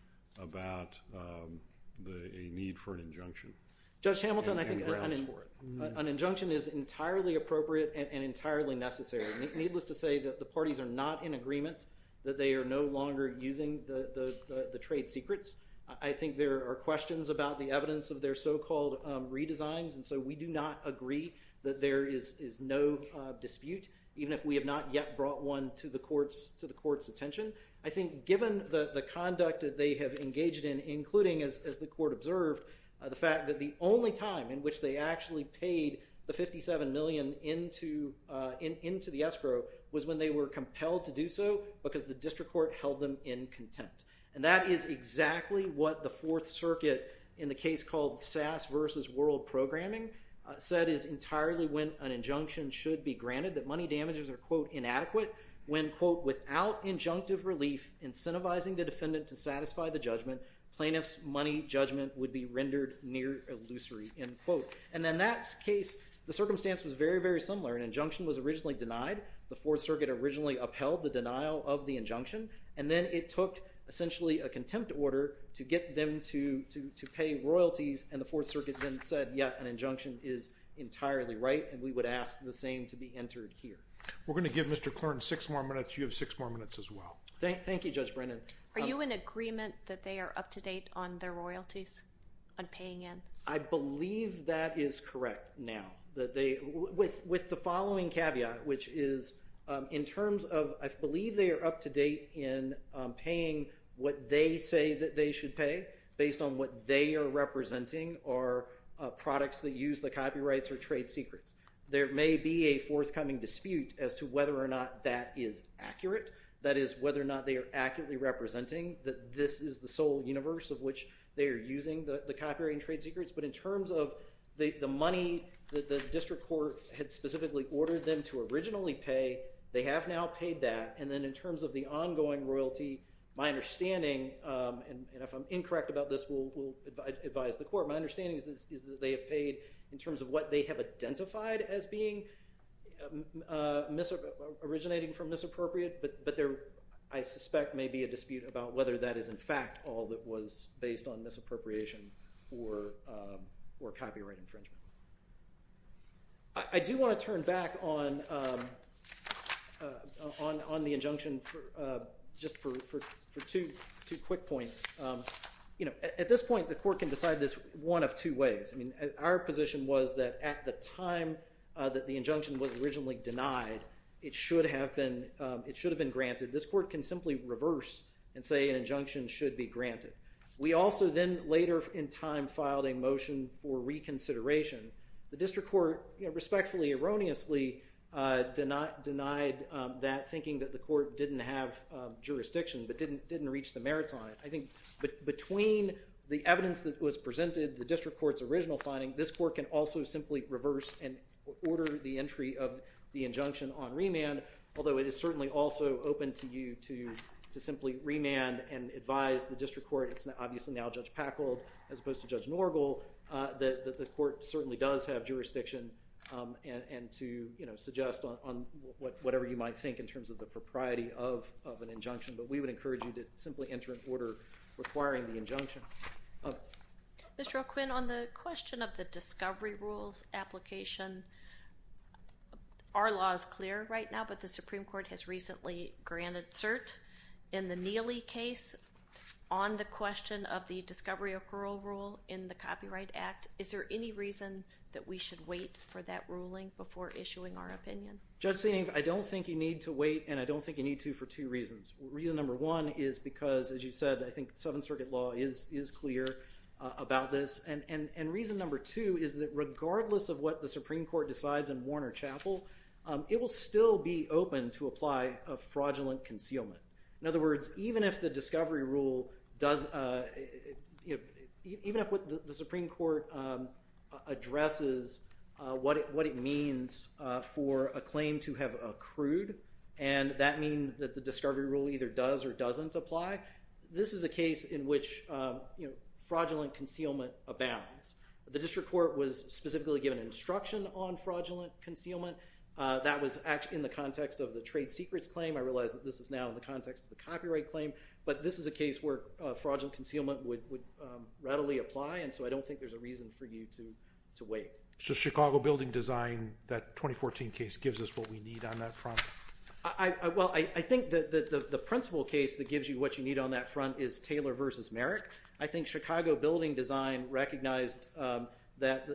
about a need for an injunction? Judge Hamilton, I think an injunction is entirely appropriate and entirely necessary. Needless to say, the parties are not in agreement that they are no longer using the trade secrets. I think there are questions about the evidence of their so-called redesigns, and so we do not agree that there is no dispute, even if we have not yet brought one to the court's attention. I think given the conduct that they have engaged in, including, as the court observed, the fact that the only time in which they actually paid the $57 million into the escrow was when they were compelled to do so because the district court held them in contempt. And that is exactly what the Fourth Circuit, in the case called Sass v. World Programming, said is entirely when an injunction should be granted, that money damages are, quote, inadequate, when, quote, without injunctive relief incentivizing the defendant to satisfy the judgment, plaintiff's money judgment would be rendered near illusory, end quote. And in that case, the circumstance was very, very similar. An injunction was originally denied. The Fourth Circuit originally upheld the denial of the injunction, and then it took essentially a contempt order to get them to pay royalties, and the Fourth Circuit then said, yeah, an injunction is entirely right, and we would ask the same to be entered here. We're going to give Mr. Clarn six more minutes. You have six more minutes as well. Thank you, Judge Brennan. Are you in agreement that they are up to date on their royalties on paying in? I believe that is correct now with the following caveat, which is in terms of I believe they are up to date in paying what they say that they should pay based on what they are representing or products that use the copyrights or trade secrets. There may be a forthcoming dispute as to whether or not that is accurate, that is whether or not they are accurately representing that this is the sole universe of which they are using the copyright and trade secrets, but in terms of the money that the district court had specifically ordered them to originally pay, they have now paid that, and then in terms of the ongoing royalty, my understanding, and if I'm incorrect about this, we'll advise the court, my understanding is that they have paid in terms of what they have identified as originating from misappropriate, but I suspect may be a dispute about whether that is in fact all that was based on misappropriation or copyright infringement. I do want to turn back on the injunction just for two quick points. At this point, the court can decide this one of two ways. Our position was that at the time that the injunction was originally denied, it should have been granted. This court can simply reverse and say an injunction should be granted. We also then later in time filed a motion for reconsideration. The district court respectfully erroneously denied that thinking that the court didn't have jurisdiction but didn't reach the merits on it. I think between the evidence that was presented, the district court's original finding, this court can also simply reverse and order the entry of the injunction on remand, although it is certainly also open to you to simply remand and advise the district court, it's obviously now Judge Packold as opposed to Judge Norgal, that the court certainly does have jurisdiction and to suggest on whatever you might think in terms of the propriety of an injunction, but we would encourage you to simply enter an order requiring the injunction. Mr. O'Quinn, on the question of the discovery rules application, our law is clear right now, but the Supreme Court has recently granted cert in the Neely case. On the question of the discovery of parole rule in the Copyright Act, is there any reason that we should wait for that ruling before issuing our opinion? Judge Senev, I don't think you need to wait and I don't think you need to for two reasons. Reason number one is because, as you said, I think Seventh Circuit law is clear about this, and reason number two is that regardless of what the Supreme Court decides in Warner Chapel, it will still be open to apply a fraudulent concealment. In other words, even if the discovery rule does, even if the Supreme Court addresses what it means for a claim to have accrued, and that means that the discovery rule either does or doesn't apply, this is a case in which fraudulent concealment abounds. The District Court was specifically given instruction on fraudulent concealment. That was in the context of the trade secrets claim. I realize that this is now in the context of the copyright claim, but this is a case where fraudulent concealment would readily apply, and so I don't think there's a reason for you to wait. So Chicago Building Design, that 2014 case, gives us what we need on that front? Well, I think that the principal case that gives you what you need on that front is Taylor v. Merrick. I think Chicago Building Design recognized that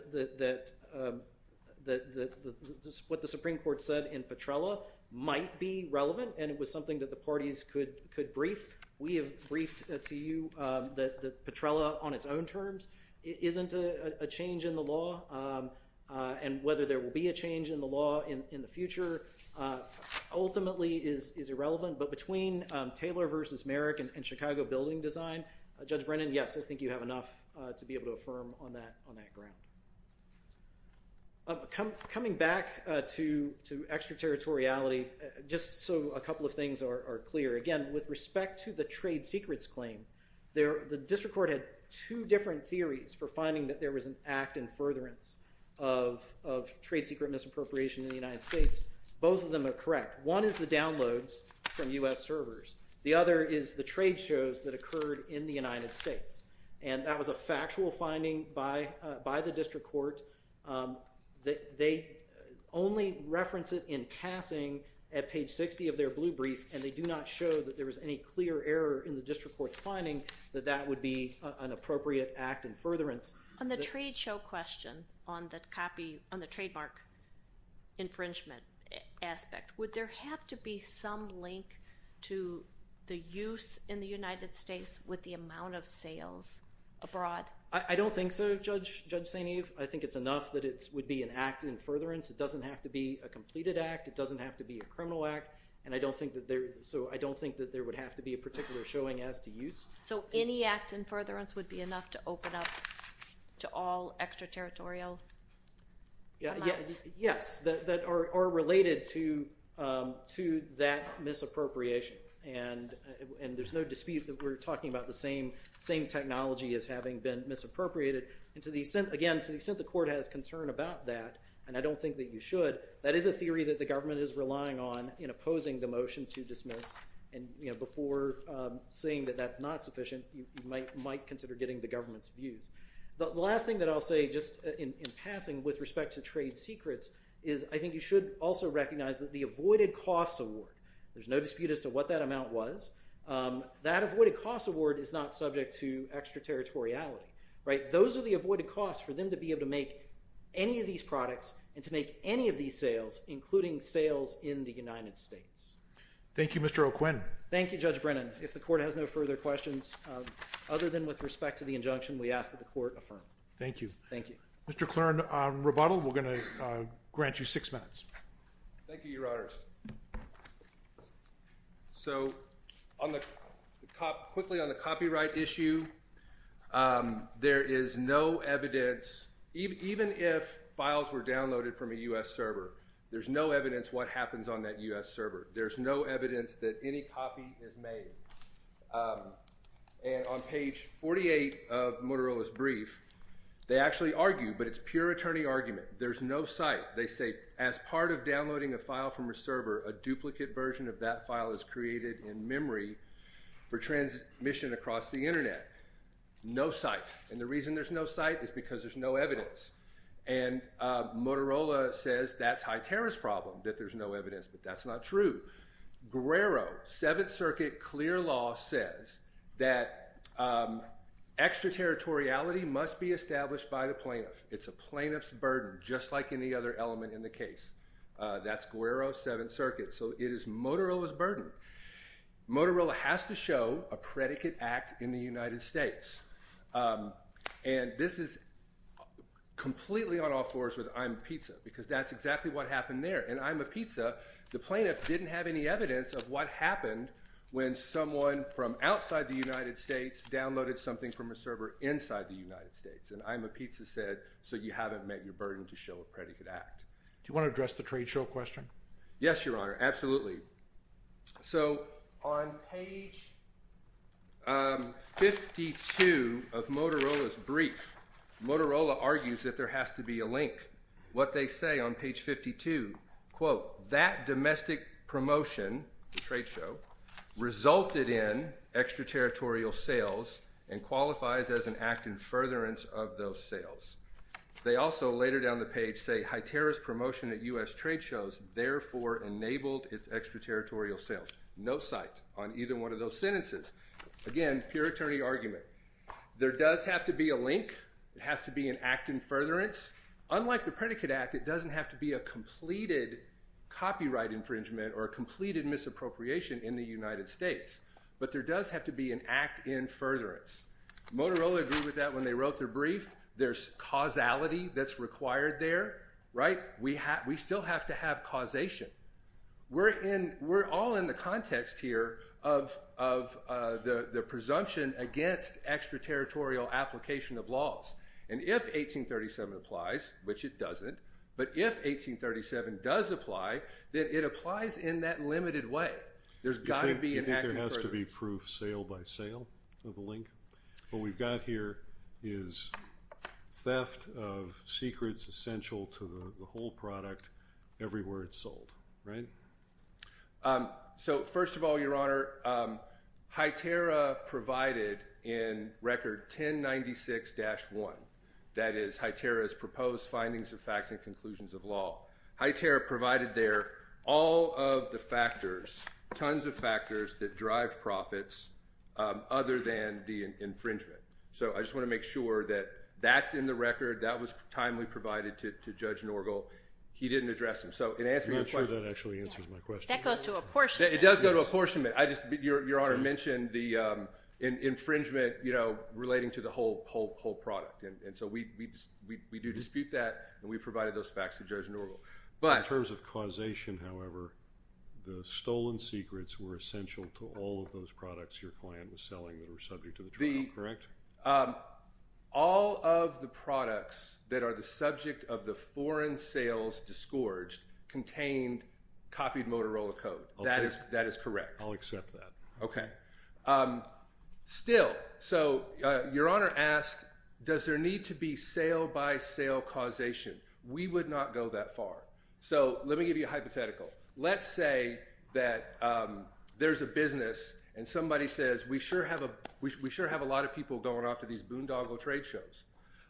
what the Supreme Court said in Petrella might be relevant, and it was something that the parties could brief. We have briefed to you that Petrella on its own terms isn't a change in the law, and whether there will be a change in the law in the future ultimately is irrelevant. But between Taylor v. Merrick and Chicago Building Design, Judge Brennan, yes, I think you have enough to be able to affirm on that ground. Coming back to extraterritoriality, just so a couple of things are clear. Again, with respect to the trade secrets claim, the district court had two different theories for finding that there was an act in furtherance of trade secret misappropriation in the United States. Both of them are correct. One is the downloads from U.S. servers. The other is the trade shows that occurred in the United States, and that was a factual finding by the district court. They only reference it in passing at page 60 of their blue brief, and they do not show that there was any clear error in the district court's finding that that would be an appropriate act in furtherance. On the trade show question, on the trademark infringement aspect, would there have to be some link to the use in the United States with the amount of sales abroad? I don't think so, Judge St. Eve. I think it's enough that it would be an act in furtherance. It doesn't have to be a completed act. It doesn't have to be a criminal act, so I don't think that there would have to be a particular showing as to use. So any act in furtherance would be enough to open up to all extraterritorial amounts? Yes, that are related to that misappropriation, and there's no dispute that we're talking about the same technology as having been misappropriated. Again, to the extent the court has concern about that, and I don't think that you should, that is a theory that the government is relying on in opposing the motion to dismiss, and before saying that that's not sufficient, you might consider getting the government's views. The last thing that I'll say, just in passing, with respect to trade secrets, is I think you should also recognize that the avoided cost award, there's no dispute as to what that amount was, that avoided cost award is not subject to extraterritoriality. Those are the avoided costs for them to be able to make any of these products and to make any of these sales, including sales in the United States. Thank you, Mr. O'Quinn. Thank you, Judge Brennan. Again, if the court has no further questions, other than with respect to the injunction, we ask that the court affirm. Thank you. Thank you. Mr. Clern, rebuttal, we're going to grant you six minutes. Thank you, Your Honors. So quickly on the copyright issue, there is no evidence, even if files were downloaded from a U.S. server, there's no evidence what happens on that U.S. server. There's no evidence that any copy is made. And on page 48 of Motorola's brief, they actually argue, but it's pure attorney argument, there's no site. They say, as part of downloading a file from a server, a duplicate version of that file is created in memory for transmission across the Internet. No site. And the reason there's no site is because there's no evidence. And Motorola says that's high terrorist problem, that there's no evidence. But that's not true. Guerrero, Seventh Circuit clear law, says that extraterritoriality must be established by the plaintiff. It's a plaintiff's burden, just like any other element in the case. That's Guerrero, Seventh Circuit. So it is Motorola's burden. Motorola has to show a predicate act in the United States. And this is completely on all fours with I'm a pizza, because that's exactly what happened there. And I'm a pizza, the plaintiff didn't have any evidence of what happened when someone from outside the United States downloaded something from a server inside the United States. And I'm a pizza said, so you haven't met your burden to show a predicate act. Do you want to address the trade show question? Yes, Your Honor, absolutely. So on page 52 of Motorola's brief, Motorola argues that there has to be a link. What they say on page 52, quote, that domestic promotion trade show resulted in extraterritorial sales and qualifies as an act in furtherance of those sales. They also later down the page say high terrorist promotion at U.S. trade shows, therefore enabled its extraterritorial sales. No site on either one of those sentences. Again, pure attorney argument. There does have to be a link. It has to be an act in furtherance. Unlike the predicate act, it doesn't have to be a completed copyright infringement or a completed misappropriation in the United States. But there does have to be an act in furtherance. Motorola agreed with that when they wrote their brief. There's causality that's required there, right? We still have to have causation. We're all in the context here of the presumption against extraterritorial application of laws. And if 1837 applies, which it doesn't, but if 1837 does apply, then it applies in that limited way. There's got to be an act in furtherance. There's got to be proof sale by sale of the link. What we've got here is theft of secrets essential to the whole product everywhere it's sold, right? So first of all, Your Honor, HITERA provided in Record 1096-1, that is HITERA's proposed findings of facts and conclusions of law, HITERA provided there all of the factors, tons of factors that drive profits other than the infringement. So I just want to make sure that that's in the record. That was timely provided to Judge Norgel. He didn't address them. I'm not sure that actually answers my question. That goes to apportionment. It does go to apportionment. Your Honor mentioned the infringement relating to the whole product. And so we do dispute that, and we provided those facts to Judge Norgel. In terms of causation, however, the stolen secrets were essential to all of those products your client was selling that were subject to the trial, correct? All of the products that are the subject of the foreign sales disgorged contained copied Motorola code. That is correct. I'll accept that. Okay. Still, so your Honor asked, does there need to be sale-by-sale causation? We would not go that far. So let me give you a hypothetical. Let's say that there's a business and somebody says, we sure have a lot of people going off to these boondoggle trade shows,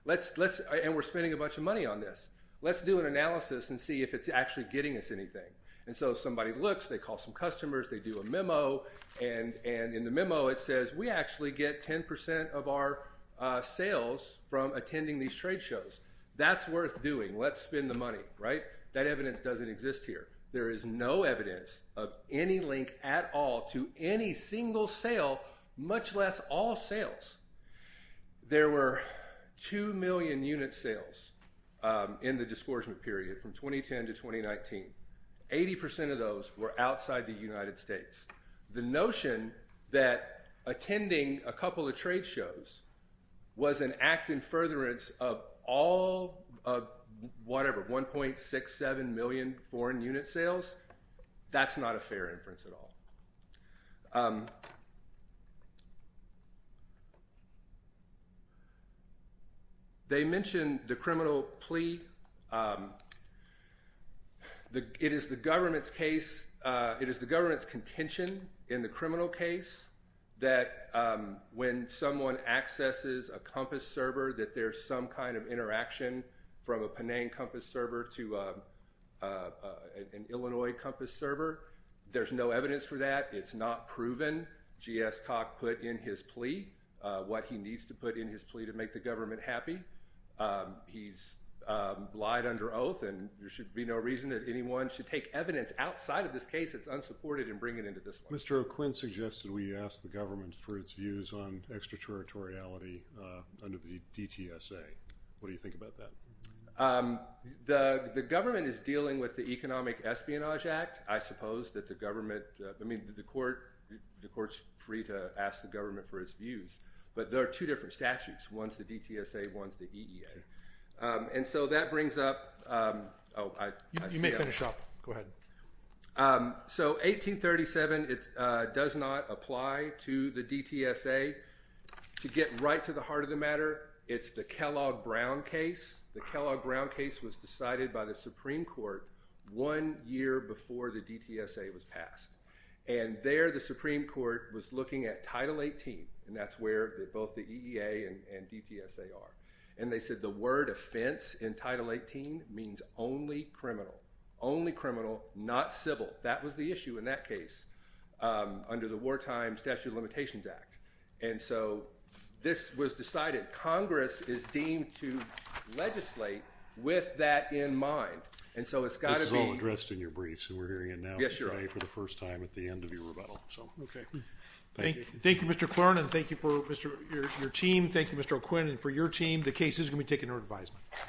and we're spending a bunch of money on this. Let's do an analysis and see if it's actually getting us anything. And so somebody looks, they call some customers, they do a memo, and in the memo it says, we actually get 10% of our sales from attending these trade shows. That's worth doing. Let's spend the money, right? That evidence doesn't exist here. There is no evidence of any link at all to any single sale, much less all sales. There were 2 million unit sales in the disgorgement period from 2010 to 2019. 80% of those were outside the United States. The notion that attending a couple of trade shows was an act in furtherance of all of whatever, 1.67 million foreign unit sales, that's not a fair inference at all. They mention the criminal plea. It is the government's contention in the criminal case that when someone accesses a Compass server that there's some kind of interaction from a Penang Compass server to an Illinois Compass server. There's no evidence for that. It's not proven. GS Koch put in his plea what he needs to put in his plea to make the government happy. He's lied under oath, and there should be no reason that anyone should take evidence outside of this case that's unsupported and bring it into this one. Mr. O'Quinn suggested we ask the government for its views on extraterritoriality under the DTSA. What do you think about that? The government is dealing with the Economic Espionage Act. The court's free to ask the government for its views, but there are two different statutes. One's the DTSA, one's the EEA. You may finish up. Go ahead. 1837 does not apply to the DTSA. To get right to the heart of the matter, it's the Kellogg-Brown case. The Kellogg-Brown case was decided by the Supreme Court one year before the DTSA was passed. And there the Supreme Court was looking at Title 18, and that's where both the EEA and DTSA are. And they said the word offense in Title 18 means only criminal, only criminal, not civil. That was the issue in that case under the wartime Statute of Limitations Act. And so this was decided. Congress is deemed to legislate with that in mind. And so it's got to be— This is all addressed in your briefs, and we're hearing it now today for the first time at the end of your rebuttal. Okay. Thank you, Mr. Clarnon. Thank you for your team. Thank you, Mr. O'Quinn. And for your team, the case is going to be taken under advisement.